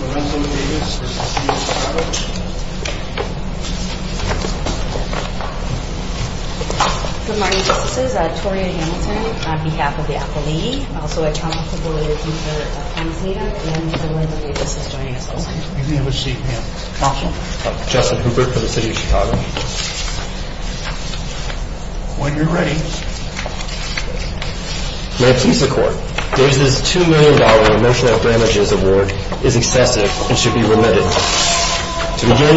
Lorenzo Davis v. City of Chicago Good morning, Justices. I'm Toria Hamilton on behalf of the Appellatee. I'm also a trumpet-favorite Luther of Pennsylvania. And Lorenzo Davis is joining us also. You may have a seat, ma'am. Thank you. I'm Justin Hooper from the City of Chicago. When you're ready. May it please the Court. Davis' $2 million Emotional Damages Award is excessive and should be remitted. To begin,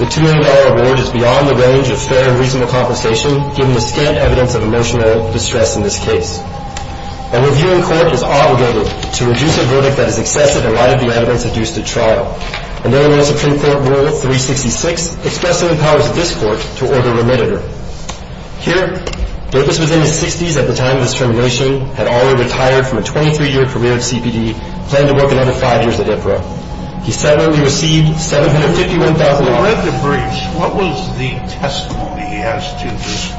the $2 million award is beyond the range of fair and reasonable compensation given the scant evidence of emotional distress in this case. A reviewing court is obligated to reduce a verdict that is excessive in light of the evidence induced at trial. And therein lies Supreme Court Rule 366, expressing the powers of this Court to order remitted. Here, Davis was in his 60s at the time of his termination, had already retired from a 23-year career at CPD, and planned to work another five years at IPRA. He suddenly received $751,000. What was the testimony he has to this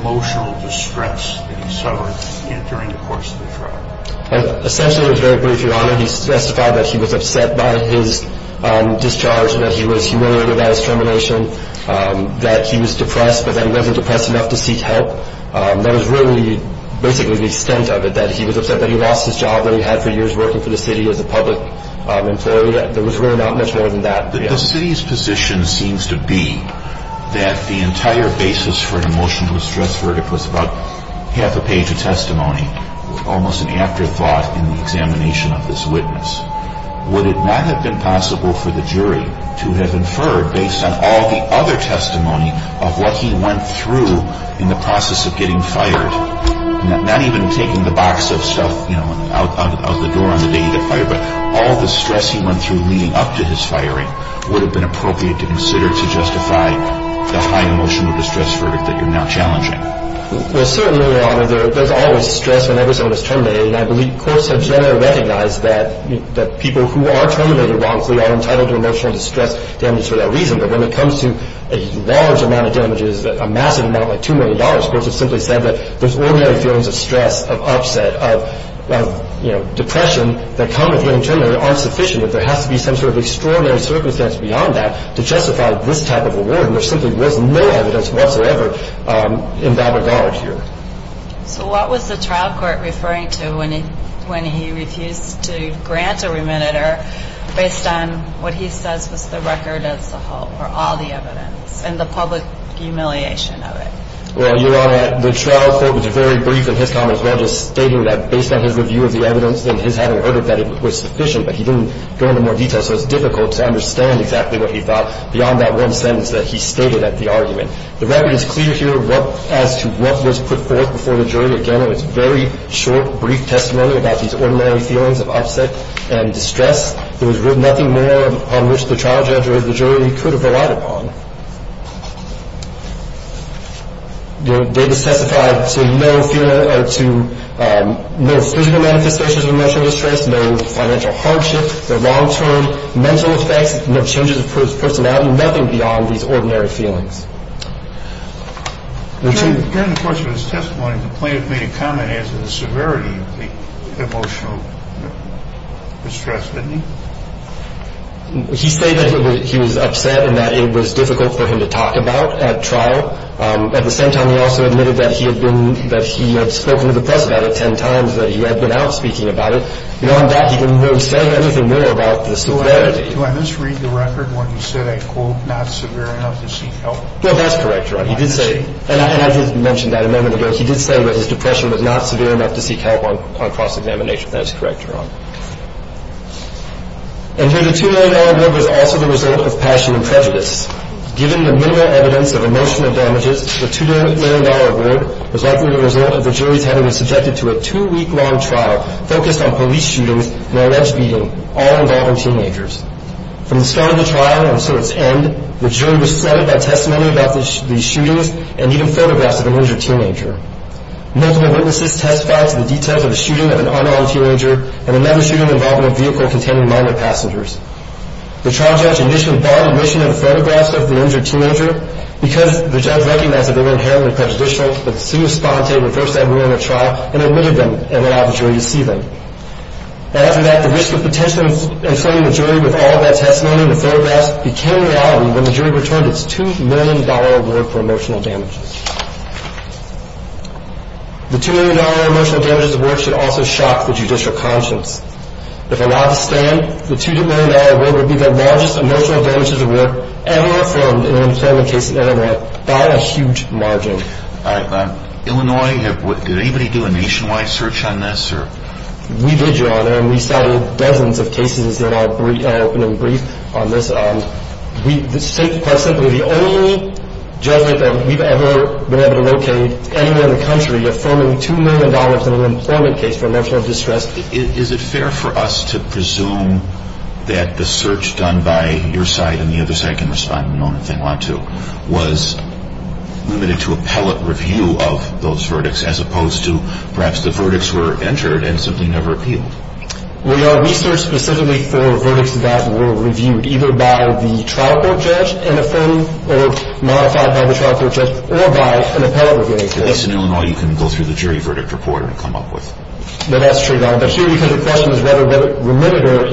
emotional distress that he suffered during the course of the trial? Essentially, it was very brief, Your Honor. He testified that he was upset by his discharge, that he was humiliated by his termination, that he was depressed, but that he wasn't depressed enough to seek help. That was really basically the extent of it, that he was upset that he lost his job that he had for years working for the city as a public employee. There was really not much more than that. The city's position seems to be that the entire basis for an emotional distress verdict was about half a page of testimony, almost an afterthought in the examination of this witness. Would it not have been possible for the jury to have inferred, based on all the other testimony of what he went through in the process of getting fired, not even taking the box of stuff out the door on the day he got fired, but all the stress he went through leading up to his firing, would have been appropriate to consider to justify the high emotional distress verdict that you're now challenging. Well, certainly, Your Honor, there's always stress whenever someone is terminated, and I believe courts have generally recognized that people who are terminated wrongfully are entitled to emotional distress damage for that reason, but when it comes to a large amount of damages, a massive amount like $2 million, courts have simply said that those ordinary feelings of stress, of upset, of depression, that come with getting terminated aren't sufficient. There has to be some sort of extraordinary circumstance beyond that to justify this type of award, and there simply was no evidence whatsoever in that regard here. So what was the trial court referring to when he refused to grant a remediator based on what he says was the record as a whole, or all the evidence, and the public humiliation of it? Well, Your Honor, the trial court was very brief in his comments, while just stating that based on his review of the evidence and his having heard it, that it was sufficient, but he didn't go into more detail, so it's difficult to understand exactly what he thought beyond that one sentence that he stated at the argument. The record is clear here as to what was put forth before the jury, again, in its very short, brief testimony about these ordinary feelings of upset and distress. There was nothing more upon which the trial judge or the jury could have relied upon. They testified to no physical manifestations of emotional distress, no financial hardship, no long-term mental effects, no changes of personality, nothing beyond these ordinary feelings. During the course of his testimony, the plaintiff made a comment as to the severity of the emotional distress, didn't he? He stated that he was upset and that it was difficult for him to talk about at trial. At the same time, he also admitted that he had spoken to the press about it ten times, that he had been out speaking about it. And on that, he didn't really say anything more about the severity. Do I misread the record where he said a, quote, not severe enough to seek help? No, that's correct, Your Honor. He did say, and I did mention that a moment ago, he did say that his depression was not severe enough to seek help on cross-examination. That is correct, Your Honor. And here the $2 million award was also the result of passion and prejudice. Given the minimal evidence of emotional damages, the $2 million award was likely the result of the jury's having been subjected to a two-week-long trial focused on police shootings and alleged beating, all involving teenagers. From the start of the trial until its end, the jury was flooded by testimony about the shootings and even photographs of an injured teenager. Multiple witnesses testified to the details of the shooting of an unarmed teenager and another shooting involving a vehicle containing minor passengers. The trial judge initially bought admission in the photographs of the injured teenager because the judge recognized that they were inherently prejudicial, but soon responded and reversed that rule in the trial and admitted them and allowed the jury to see them. After that, the risk of potentially inflaming the jury with all of that testimony and the photographs became a reality when the jury returned its $2 million award for emotional damages. The $2 million emotional damages award should also shock the judicial conscience. If allowed to stand, the $2 million award would be the largest emotional damages award ever formed in an employment case in Illinois by a huge margin. Illinois, did anybody do a nationwide search on this? We did, Your Honor, and we cited dozens of cases in our opening brief on this. Quite simply, the only judgment that we've ever been able to locate anywhere in the country affirming $2 million in an employment case for emotional distress. Is it fair for us to presume that the search done by your side and the other side can respond in a moment if they want to was limited to appellate review of those verdicts as opposed to perhaps the verdicts were entered and simply never appealed? We are researched specifically for verdicts that were reviewed either by the trial court judge in affirming or modified by the trial court judge or by an appellate review. At least in Illinois you can go through the jury verdict report and come up with it. That's true, Your Honor, but here the question is whether remitted or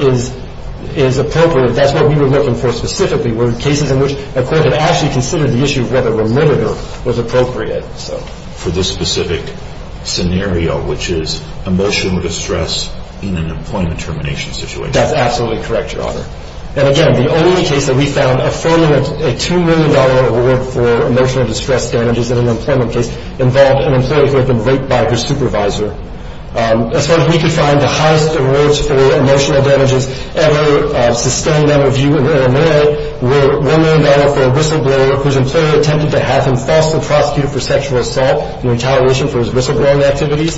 is appropriate. That's what we were looking for specifically, were cases in which a court had actually considered the issue of whether remitted or was appropriate. For this specific scenario, which is emotional distress in an employment termination situation. That's absolutely correct, Your Honor. And again, the only case that we found affirming a $2 million award for emotional distress damages in an employment case involved an employee who had been raped by her supervisor. As far as we could find, the highest awards for emotional damages ever sustained under review in Illinois were $1 million for a whistleblower whose employer attempted to have him falsely prosecuted for sexual assault in retaliation for his whistleblowing activities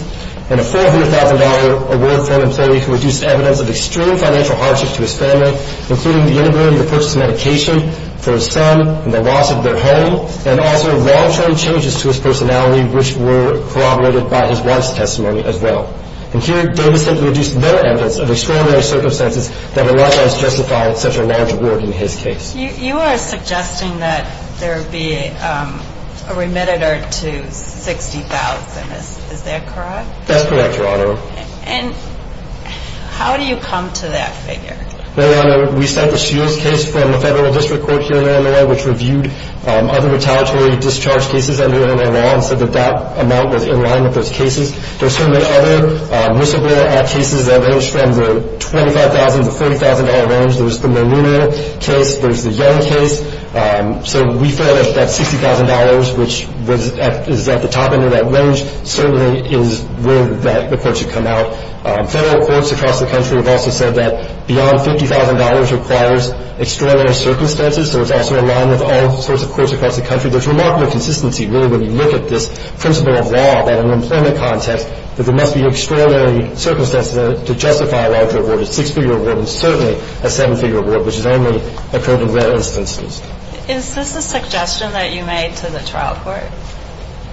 and a $400,000 award for an employee who reduced evidence of extreme financial hardships to his family including the inability to purchase medication for his son and the loss of their home and also long-term changes to his personality which were corroborated by his wife's testimony as well. And here Davis had reduced no evidence of extraordinary circumstances that would otherwise justify such a large award in his case. You are suggesting that there would be a remitted or to $60,000. Is that correct? That's correct, Your Honor. And how do you come to that figure? Well, Your Honor, we sent the Suess case from the Federal District Court here in Illinois which reviewed other retaliatory discharge cases under Illinois law and said that that amount was in line with those cases. There are certainly other Whistleblower Act cases that range from the $25,000 to $40,000 range. There's the Molino case. There's the Young case. So we feel that that $60,000, which is at the top end of that range, certainly is where that report should come out. Federal courts across the country have also said that beyond $50,000 requires extraordinary circumstances. So it's also in line with all sorts of courts across the country. There's remarkable consistency really when you look at this principle of law that in an employment context that there must be extraordinary circumstances to justify a larger award, a six-figure award, and certainly a seven-figure award, which has only occurred in rare instances. Is this a suggestion that you made to the trial court?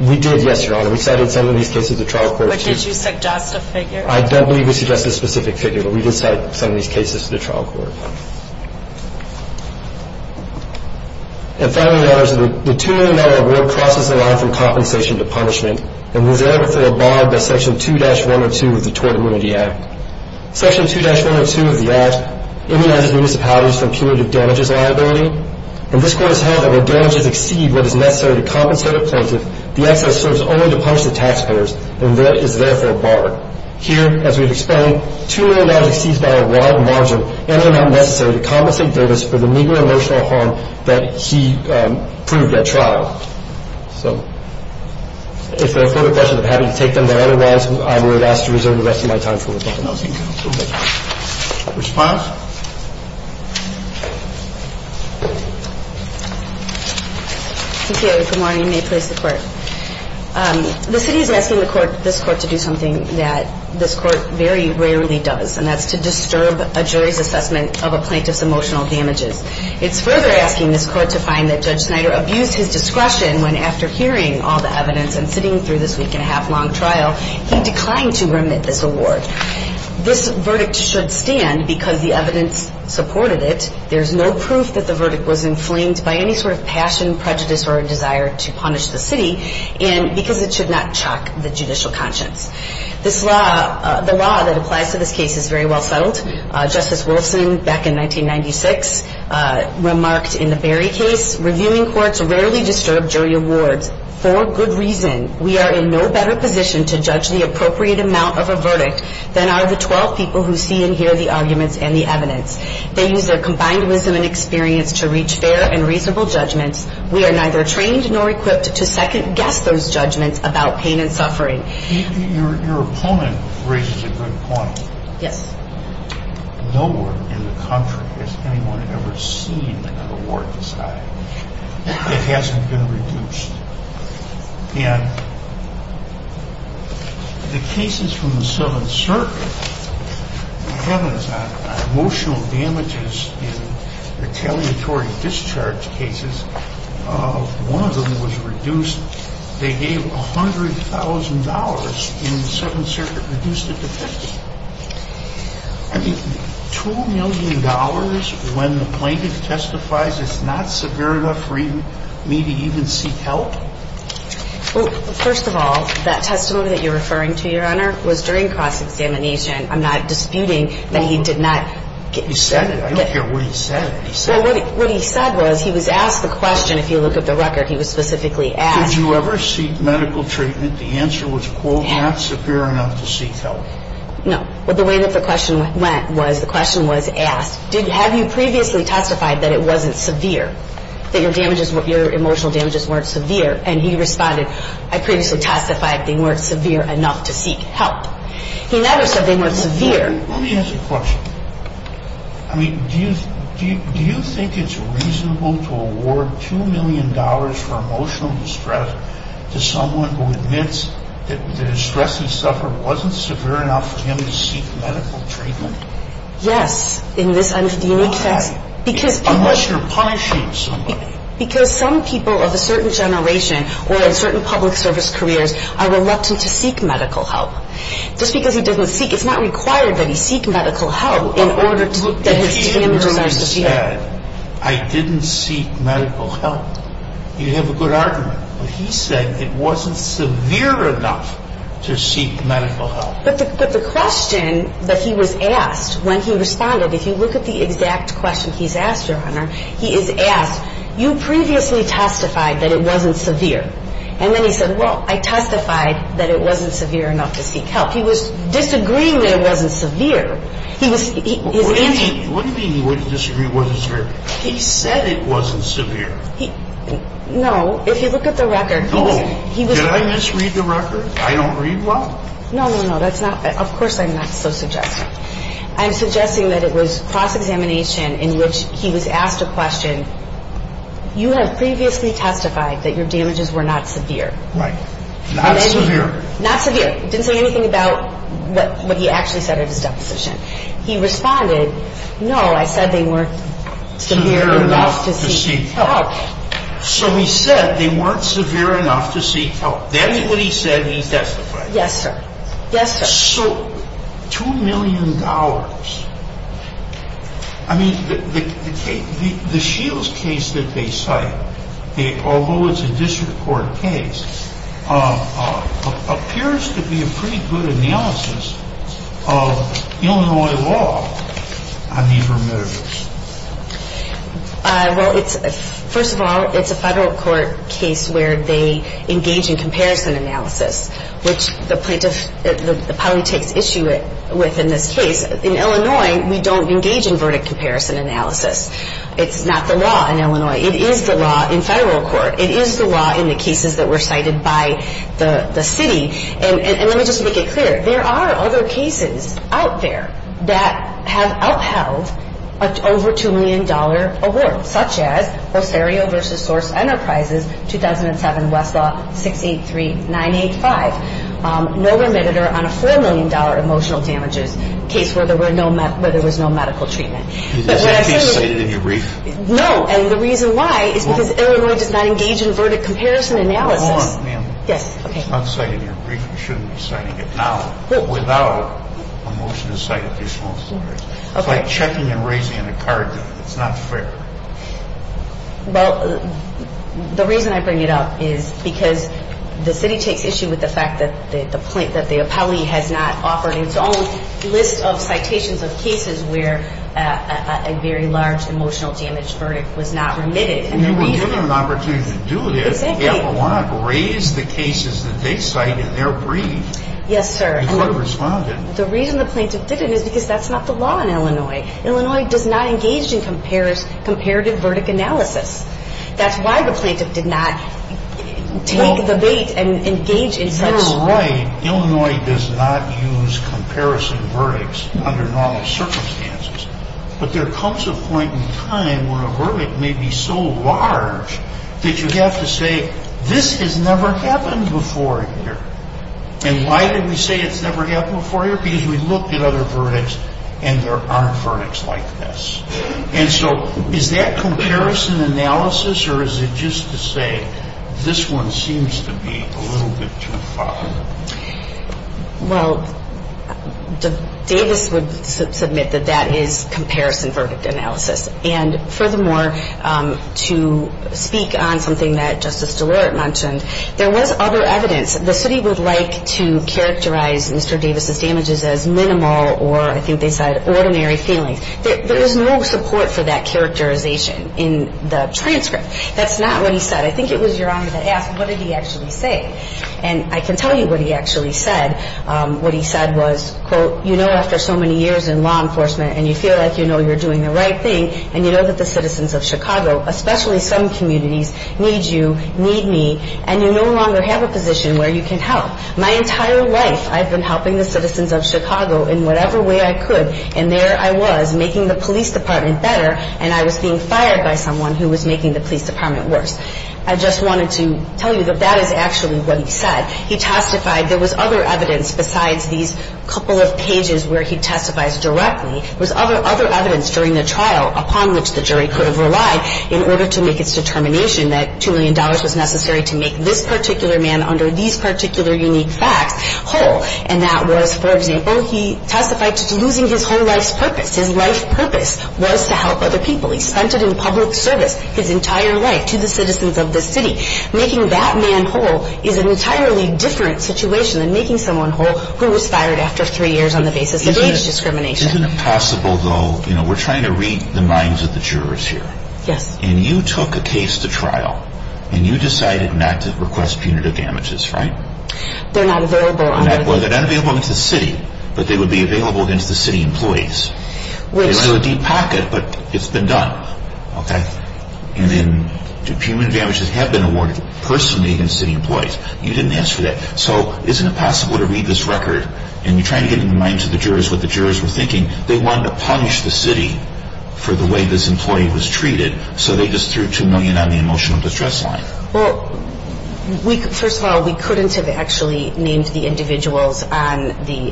We did, yes, Your Honor. We cited some of these cases to the trial court. But did you suggest a figure? I don't believe we suggested a specific figure, but we did cite some of these cases to the trial court. And finally, Your Honor, the $2 million award crosses the line from compensation to punishment and was therefore barred by Section 2-102 of the Tort Immunity Act. Section 2-102 of the Act immunizes municipalities from punitive damages liability, and this Court has held that when damages exceed what is necessary to compensate a plaintiff, the excess serves only to punish the taxpayers and is therefore barred. Here, as we've explained, $2 million exceeds by a wide margin and are not necessary to compensate Davis for the meager emotional harm that he proved at trial. So if there are further questions, I'm happy to take them, but otherwise I would ask to reserve the rest of my time for rebuttal. No, thank you. Response? Thank you, Your Honor. Good morning. May it please the Court. The city is asking this Court to do something that this Court very rarely does, and that's to disturb a jury's assessment of a plaintiff's emotional damages. It's further asking this Court to find that Judge Snyder abused his discretion when after hearing all the evidence and sitting through this week-and-a-half-long trial, he declined to remit this award. This verdict should stand because the evidence supported it. There's no proof that the verdict was inflamed by any sort of passion, prejudice, or desire to punish the city, and because it should not chalk the judicial conscience. The law that applies to this case is very well settled. Justice Wolfson, back in 1996, remarked in the Berry case, Reviewing courts rarely disturb jury awards for good reason. We are in no better position to judge the appropriate amount of a verdict than are the 12 people who see and hear the arguments and the evidence. They use their combined wisdom and experience to reach fair and reasonable judgments. We are neither trained nor equipped to second-guess those judgments about pain and suffering. Your opponent raises a good point. Yes. Nowhere in the country has anyone ever seen an award decided that hasn't been reduced. And the cases from the Seventh Circuit have emotional damages in retaliatory discharge cases. One of them was reduced. They gave $100,000, and the Seventh Circuit reduced it to $50,000. I mean, $2 million when the plaintiff testifies is not severe enough for me to even seek help? Well, first of all, that testimony that you're referring to, Your Honor, was during cross-examination. I'm not disputing that he did not get... He said it. I don't care what he said. What he said was he was asked the question, if you look at the record, he was specifically asked... Did you ever seek medical treatment? The answer was, quote, not severe enough to seek help. No. Well, the way that the question went was the question was asked, have you previously testified that it wasn't severe, that your emotional damages weren't severe? And he responded, I previously testified they weren't severe enough to seek help. He never said they weren't severe. Let me ask you a question. I mean, do you think it's reasonable to award $2 million for emotional distress to someone who admits that his stress and suffering wasn't severe enough for him to seek medical treatment? Yes, in this unique case. Why? Unless you're punishing somebody. Because some people of a certain generation or in certain public service careers are reluctant to seek medical help. Just because he doesn't seek, it's not required that he seek medical help in order to... If he had said, I didn't seek medical help, you'd have a good argument. But he said it wasn't severe enough to seek medical help. But the question that he was asked when he responded, if you look at the exact question he's asked, Your Honor, he is asked, you previously testified that it wasn't severe. And then he said, well, I testified that it wasn't severe enough to seek help. He was disagreeing that it wasn't severe. What do you mean he wasn't disagreeing it wasn't severe? He said it wasn't severe. No. If you look at the record, he was... No. Did I misread the record? I don't read well? No, no, no. That's not... Of course I'm not so suggesting. I'm suggesting that it was cross-examination in which he was asked a question, you have previously testified that your damages were not severe. Right. Not severe. Not severe. Didn't say anything about what he actually said at his deposition. He responded, no, I said they weren't severe enough to seek help. So he said they weren't severe enough to seek help. That is what he said he testified. Yes, sir. Yes, sir. So $2 million, I mean, the Shields case that they cite, although it's a district court case, appears to be a pretty good analysis of Illinois law on these remittances. Well, first of all, it's a federal court case where they engage in comparison analysis, which the plaintiff probably takes issue with in this case. In Illinois, we don't engage in verdict comparison analysis. It's not the law in Illinois. It is the law in federal court. It is the law in the cases that were cited by the city. And let me just make it clear. There are other cases out there that have outheld an over $2 million award, such as Osterio v. Source Enterprises, 2007, Westlaw 683985, no remittance on a $4 million emotional damages case where there was no medical treatment. Is that case cited in your brief? No, and the reason why is because Illinois does not engage in verdict comparison analysis. Hold on, ma'am. Yes. It's not cited in your brief. You shouldn't be citing it now without a motion to cite additional stories. It's like checking and raising a card. It's not fair. Well, the reason I bring it up is because the city takes issue with the fact that the plaintiff, that the appellee has not offered its own list of citations of cases where a very large emotional damage verdict was not remitted. And you were given an opportunity to do this. Exactly. Yeah, but why not raise the cases that they cite in their brief? Yes, sir. You could have responded. The reason the plaintiff didn't is because that's not the law in Illinois. Illinois does not engage in comparative verdict analysis. That's why the plaintiff did not take the bait and engage in such. You're right. Illinois does not use comparison verdicts under normal circumstances. But there comes a point in time when a verdict may be so large that you have to say, this has never happened before here. And why did we say it's never happened before here? Because we looked at other verdicts and there aren't verdicts like this. And so is that comparison analysis or is it just to say this one seems to be a little bit too far? Well, Davis would submit that that is comparison verdict analysis. And furthermore, to speak on something that Justice DeLaurent mentioned, there was other evidence. The city would like to characterize Mr. Davis' damages as minimal or, I think they said, ordinary feelings. There was no support for that characterization in the transcript. That's not what he said. I think it was Your Honor that asked what did he actually say. And I can tell you what he actually said. What he said was, quote, you know after so many years in law enforcement and you feel like you know you're doing the right thing and you know that the citizens of Chicago, especially some communities, need you, need me, and you no longer have a position where you can help. My entire life I've been helping the citizens of Chicago in whatever way I could and there I was making the police department better and I was being fired by someone who was making the police department worse. I just wanted to tell you that that is actually what he said. He testified. There was other evidence besides these couple of pages where he testifies directly. There was other evidence during the trial upon which the jury could have relied in order to make its determination that $2 million was necessary to make this particular man under these particular unique facts whole. And that was, for example, he testified to losing his whole life's purpose. His life purpose was to help other people. He spent it in public service his entire life to the citizens of the city. Making that man whole is an entirely different situation than making someone whole who was fired after three years on the basis of age discrimination. Isn't it possible, though, you know we're trying to read the minds of the jurors here. Yes. And you took a case to trial and you decided not to request punitive damages, right? They're not available. They're not available against the city, but they would be available against the city employees. They might have a deep pocket, but it's been done, okay? And then punitive damages have been awarded personally against city employees. You didn't ask for that. So isn't it possible to read this record, and you're trying to get in the minds of the jurors what the jurors were thinking. They wanted to punish the city for the way this employee was treated, so they just threw $2 million on the emotional distress line. Well, first of all, we couldn't have actually named the individuals on the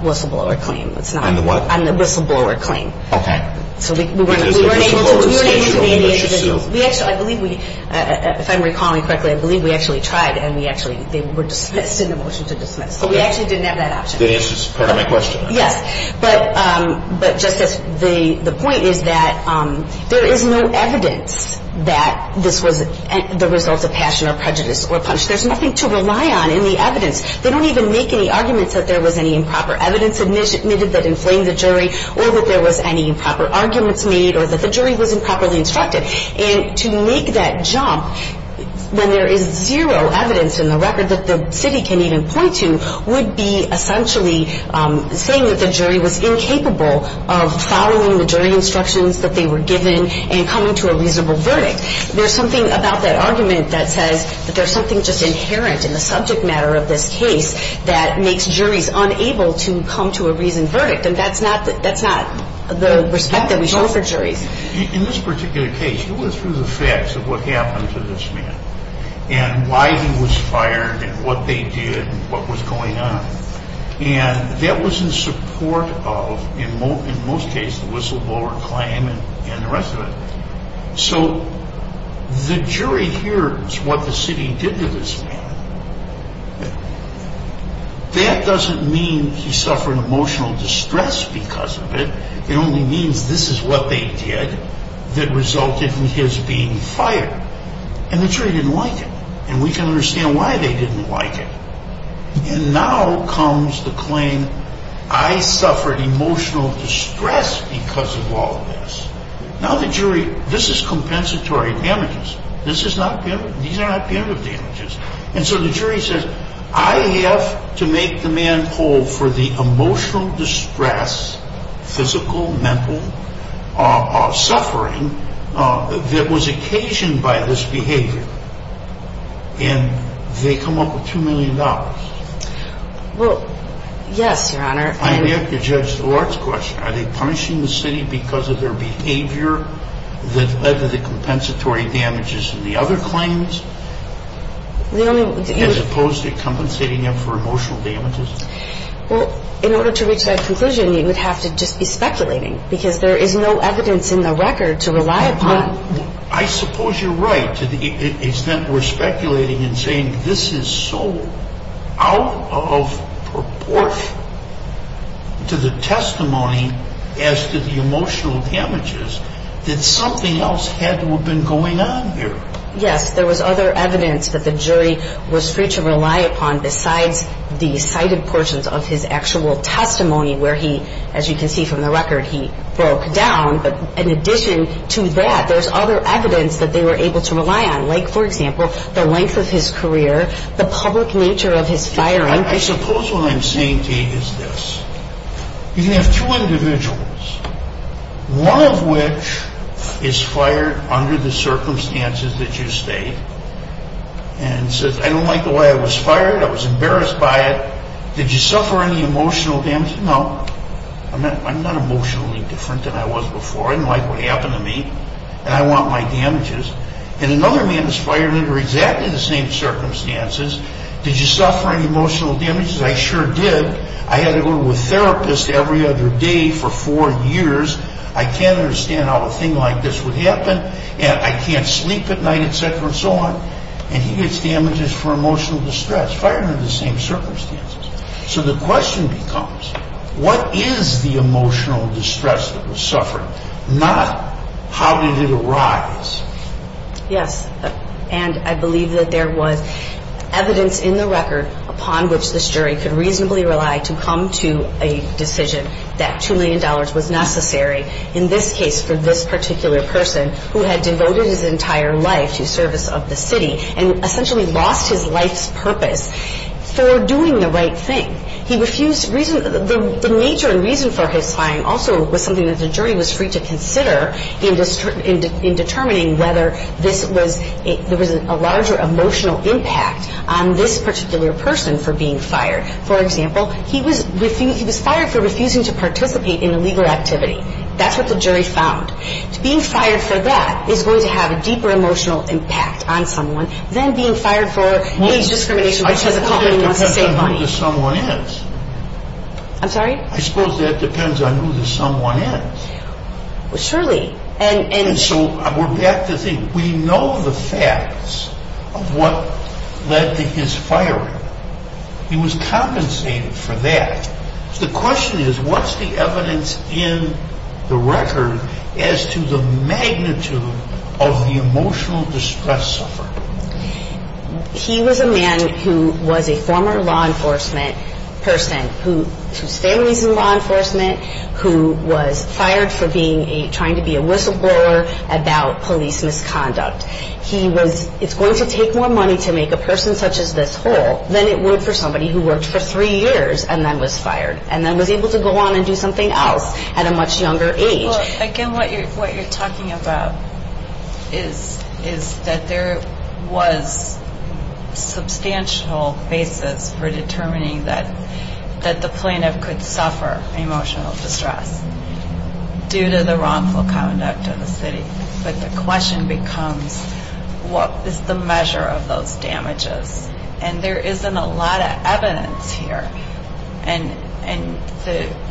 whistleblower claim. On the what? On the whistleblower claim. Okay. So we weren't able to name the individuals. If I'm recalling correctly, I believe we actually tried, and they were dismissed in the motion to dismiss. So we actually didn't have that option. That answers part of my question. Yes. But, Justice, the point is that there is no evidence that this was the result of passion or prejudice or punishment. There's nothing to rely on in the evidence. They don't even make any arguments that there was any improper evidence admitted that inflamed the jury or that there was any improper arguments made or that the jury was improperly instructed. And to make that jump when there is zero evidence in the record that the city can even point to would be essentially saying that the jury was incapable of following the jury instructions that they were given and coming to a reasonable verdict. There's something about that argument that says that there's something just inherent in the subject matter of this case that makes juries unable to come to a reasoned verdict. And that's not the respect that we show for juries. In this particular case, you went through the facts of what happened to this man and why he was fired and what they did and what was going on. And that was in support of, in most cases, the whistleblower claim and the rest of it. So the jury hears what the city did to this man. That doesn't mean he suffered emotional distress because of it. It only means this is what they did that resulted in his being fired. And the jury didn't like it. And we can understand why they didn't like it. And now comes the claim, I suffered emotional distress because of all this. Now the jury, this is compensatory damages. These are not punitive damages. And so the jury says, I have to make the man whole for the emotional distress, physical, mental suffering that was occasioned by this behavior. And they come up with $2 million. Well, yes, Your Honor. I have to judge the Lord's question. Are they punishing the city because of their behavior that led to the compensatory damages in the other claims as opposed to compensating them for emotional damages? Well, in order to reach that conclusion, you would have to just be speculating because there is no evidence in the record to rely upon. I suppose you're right to the extent we're speculating and saying this is so out of proportion. To the testimony as to the emotional damages, that something else had to have been going on here. Yes, there was other evidence that the jury was free to rely upon besides the cited portions of his actual testimony where he, as you can see from the record, he broke down. But in addition to that, there's other evidence that they were able to rely on, like, for example, the length of his career, the public nature of his firing. I suppose what I'm saying to you is this. You can have two individuals, one of which is fired under the circumstances that you state and says, I don't like the way I was fired. I was embarrassed by it. Did you suffer any emotional damage? No, I'm not emotionally different than I was before. I didn't like what happened to me, and I want my damages. And another man is fired under exactly the same circumstances. Did you suffer any emotional damages? I sure did. I had to go to a therapist every other day for four years. I can't understand how a thing like this would happen, and I can't sleep at night, et cetera, and so on. And he gets damages for emotional distress, fired under the same circumstances. So the question becomes, what is the emotional distress that was suffered, not how did it arise? Yes, and I believe that there was evidence in the record upon which this jury could reasonably rely to come to a decision that $2 million was necessary in this case for this particular person who had devoted his entire life to service of the city and essentially lost his life's purpose for doing the right thing. The nature and reason for his firing also was something that the jury was free to consider in determining whether there was a larger emotional impact on this particular person for being fired. For example, he was fired for refusing to participate in illegal activity. That's what the jury found. Being fired for that is going to have a deeper emotional impact on someone than being fired for age discrimination, which is a company that wants to save money. I suppose that depends on who the someone is. I'm sorry? I suppose that depends on who the someone is. Surely. And so we're back to the thing. We know the facts of what led to his firing. He was compensated for that. The question is, what's the evidence in the record as to the magnitude of the emotional distress suffered? He was a man who was a former law enforcement person, whose family is in law enforcement, who was fired for trying to be a whistleblower about police misconduct. It's going to take more money to make a person such as this whole than it would for somebody who worked for three years and then was fired and then was able to go on and do something else at a much younger age. Well, again, what you're talking about is that there was substantial basis for determining that the plaintiff could suffer emotional distress due to the wrongful conduct of the city. But the question becomes, what is the measure of those damages? And there isn't a lot of evidence here. And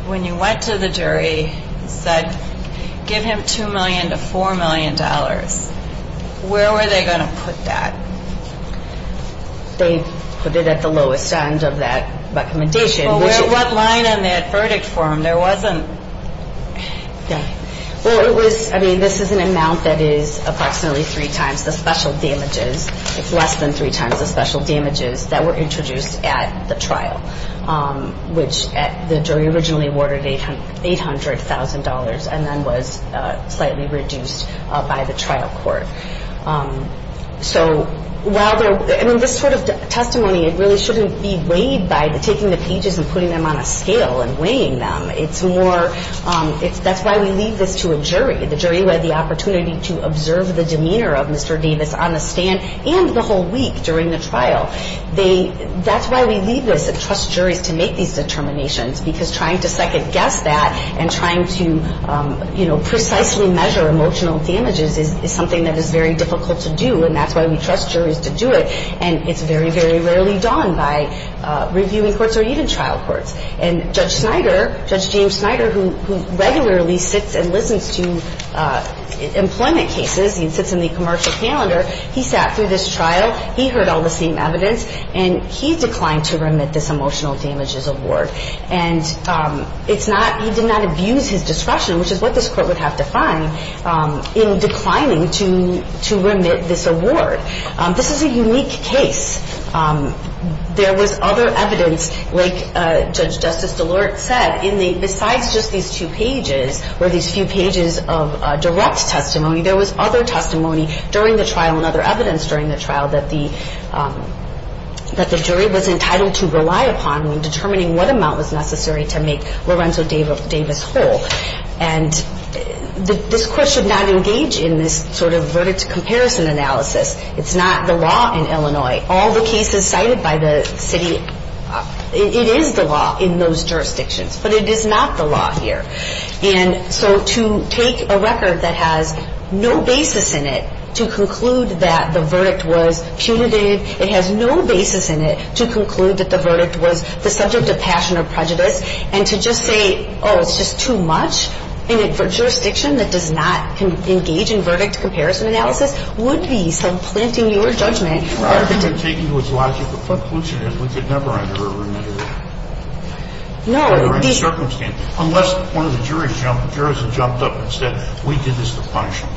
when you went to the jury and said, give him $2 million to $4 million, where were they going to put that? They put it at the lowest end of that recommendation. Well, what line on that verdict form? Well, it was, I mean, this is an amount that is approximately three times the special damages. It's less than three times the special damages that were introduced at the trial, which the jury originally awarded $800,000 and then was slightly reduced by the trial court. So while there, I mean, this sort of testimony, it really shouldn't be weighed by taking the pages and putting them on a scale and weighing them. It's more, that's why we leave this to a jury. The jury led the opportunity to observe the demeanor of Mr. Davis on the stand and the whole week during the trial. That's why we leave this and trust juries to make these determinations, because trying to second-guess that and trying to, you know, precisely measure emotional damages is something that is very difficult to do, and that's why we trust juries to do it. And it's very, very rarely done by reviewing courts or even trial courts. And Judge Snyder, Judge James Snyder, who regularly sits and listens to employment cases, he sits in the commercial calendar, he sat through this trial, he heard all the same evidence, and he declined to remit this emotional damages award. And it's not, he did not abuse his discretion, which is what this court would have defined in declining to remit this award. This is a unique case. There was other evidence, like Judge Justice DeLorte said, besides just these two pages or these few pages of direct testimony, there was other testimony during the trial and other evidence during the trial that the jury was entitled to rely upon when determining what amount was necessary to make Lorenzo Davis whole. And this court should not engage in this sort of verdict-to-comparison analysis. It's not the law in Illinois. All the cases cited by the city, it is the law in those jurisdictions, but it is not the law here. And so to take a record that has no basis in it to conclude that the verdict was punitive, it has no basis in it to conclude that the verdict was the subject of passion or prejudice, and to just say, oh, it's just too much in a jurisdiction that does not engage in verdict-to-comparison analysis would be supplanting your judgment. Well, I think they're taking to its logic what pollution is. We could never under a remit or under any circumstance, unless one of the jurors jumped up and said, we did this to punish them.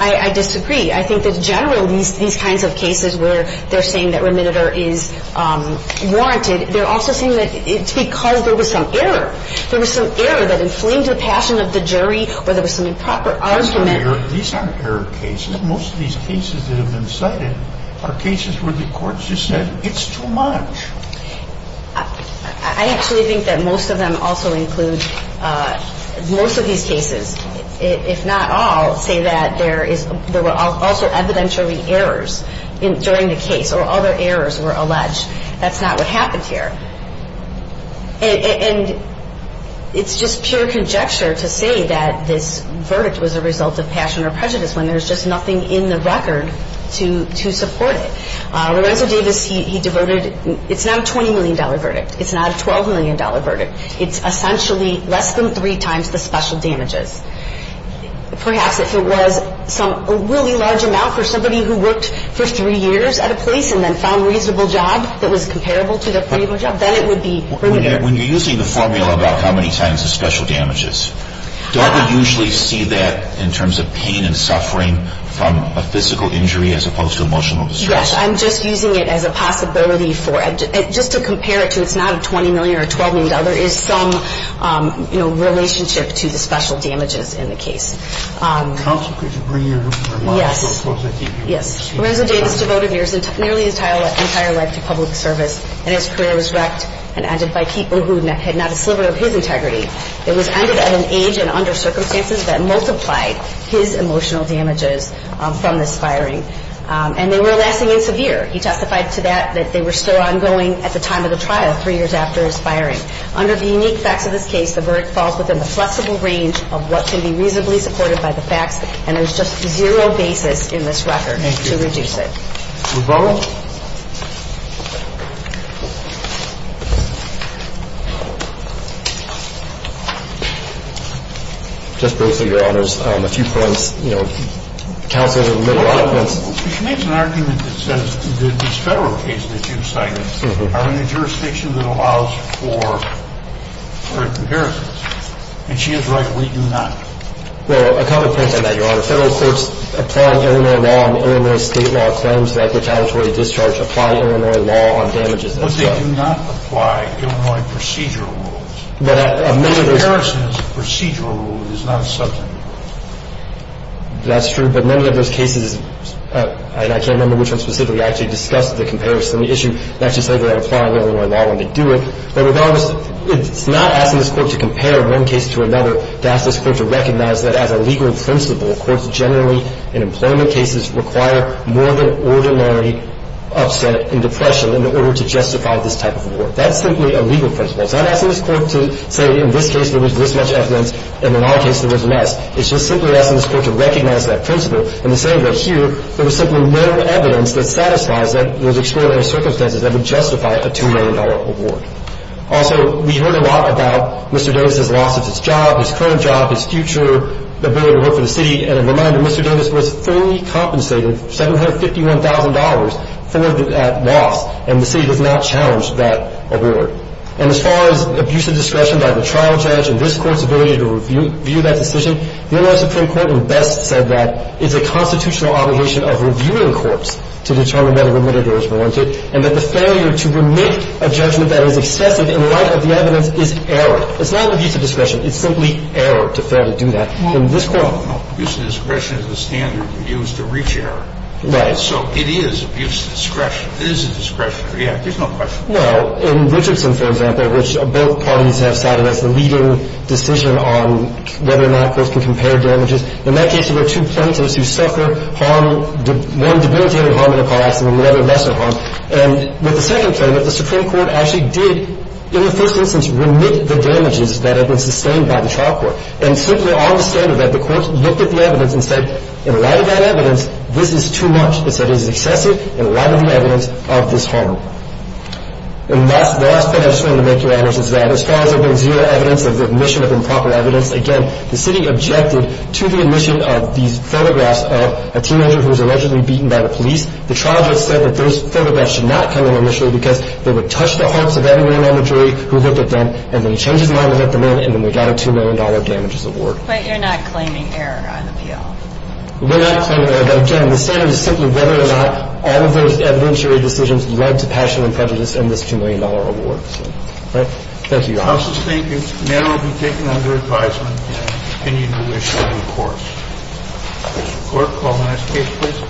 I disagree. I think that generally these kinds of cases where they're saying that remit or is warranted, they're also saying that it's because there was some error. There was some error that inflamed the passion of the jury or there was some improper argument. These aren't error cases. Most of these cases that have been cited are cases where the courts just said, it's too much. I actually think that most of them also include, most of these cases, if not all, say that there were also evidentiary errors during the case or other errors were alleged. That's not what happened here. And it's just pure conjecture to say that this verdict was a result of passion or prejudice when there's just nothing in the record to support it. Lorenzo Davis, he devoted, it's not a $20 million verdict. It's not a $12 million verdict. It's essentially less than three times the special damages. Perhaps if it was a really large amount for somebody who worked for three years at a place and then found a reasonable job that was comparable to their previous job, then it would be prudent. When you're using the formula about how many times the special damage is, don't we usually see that in terms of pain and suffering from a physical injury as opposed to emotional distress? Yes. I'm just using it as a possibility for, just to compare it to it's not a $20 million or $12 million. There is some, you know, relationship to the special damages in the case. Counsel, could you bring your remarks up? Yes. Lorenzo Davis devoted nearly his entire life to public service, and his career was wrecked and ended by people who had not a sliver of his integrity. It was ended at an age and under circumstances that multiplied his emotional damages from this firing. And they were lasting and severe. He testified to that, that they were still ongoing at the time of the trial three years after his firing. Under the unique facts of this case, the verdict falls within the flexible range of what can be reasonably supported by the facts, and there's just zero basis in this record to reduce it. Thank you. Rebella? Just briefly, Your Honors, a few points. You know, Counsel, there were a lot of points. She makes an argument that says this federal case that you cited are in a jurisdiction that allows for comparisons. And she is right, we do not. Well, a couple of points on that, Your Honor. Federal courts apply Illinois law, and Illinois state law claims that retaliatory discharge apply Illinois law on damages. But they do not apply Illinois procedural rules. But none of those – Comparison is a procedural rule. It is not a substantive rule. That's true. But none of those cases – and I can't remember which one specifically actually discussed the comparison issue and actually said that it applied Illinois law when they do it. But regardless, it's not asking this Court to compare one case to another, to ask this Court to recognize that as a legal principle, courts generally, in employment cases, require more than ordinary upset and depression in order to justify this type of award. That's simply a legal principle. It's not asking this Court to say in this case there was this much evidence and in another case there was less. It's just simply asking this Court to recognize that principle and to say that here, there was simply no evidence that satisfies those extraordinary circumstances that would justify a $2 million award. Also, we heard a lot about Mr. Davis' loss of his job, his current job, his future ability to work for the city. And a reminder, Mr. Davis was fully compensated $751,000 for that loss, and the city does not challenge that award. And as far as abuse of discretion by the trial judge and this Court's ability to review that decision, the Illinois Supreme Court best said that it's a constitutional obligation of reviewing courts to determine whether remitted or is warranted, and that the failure to remit a judgment that is excessive in light of the evidence is error. It's not abuse of discretion. It's simply error to fairly do that. In this Court. No. Abuse of discretion is the standard we use to reach error. Right. So it is abuse of discretion. It is a discretion. Yeah. There's no question. Well, in Richardson, for example, which both parties have cited as the leading decision on whether or not courts can compare damages, in that case there were two plaintiffs who suffer harm, one debilitated harm in a car accident and the other lesser harm. And with the second plaintiff, the Supreme Court actually did, in the first instance, remit the damages that had been sustained by the trial court. And simply on the standard of that, the courts looked at the evidence and said, in light of that evidence, this is too much. It said it is excessive in light of the evidence of this harm. And the last point I just wanted to make, Your Honors, is that as far as there being zero evidence of the admission of improper evidence, again, the city objected to the admission of these photographs of a teenager who was allegedly beaten by the police. The trial judge said that those photographs should not come in initially because they would touch the hearts of everyone on the jury who looked at them, and then he changed his mind and let them in, and then we got a $2 million damages award. But you're not claiming error on the appeal. We're not claiming error. But, again, the standard is simply whether or not all of those evidentiary decisions led to passion and prejudice and this $2 million award. All right. Thank you, Your Honors. The House is thinking that it will be taken under advisement, and I continue to wish every court. Mr. Clerk, call the next case, please.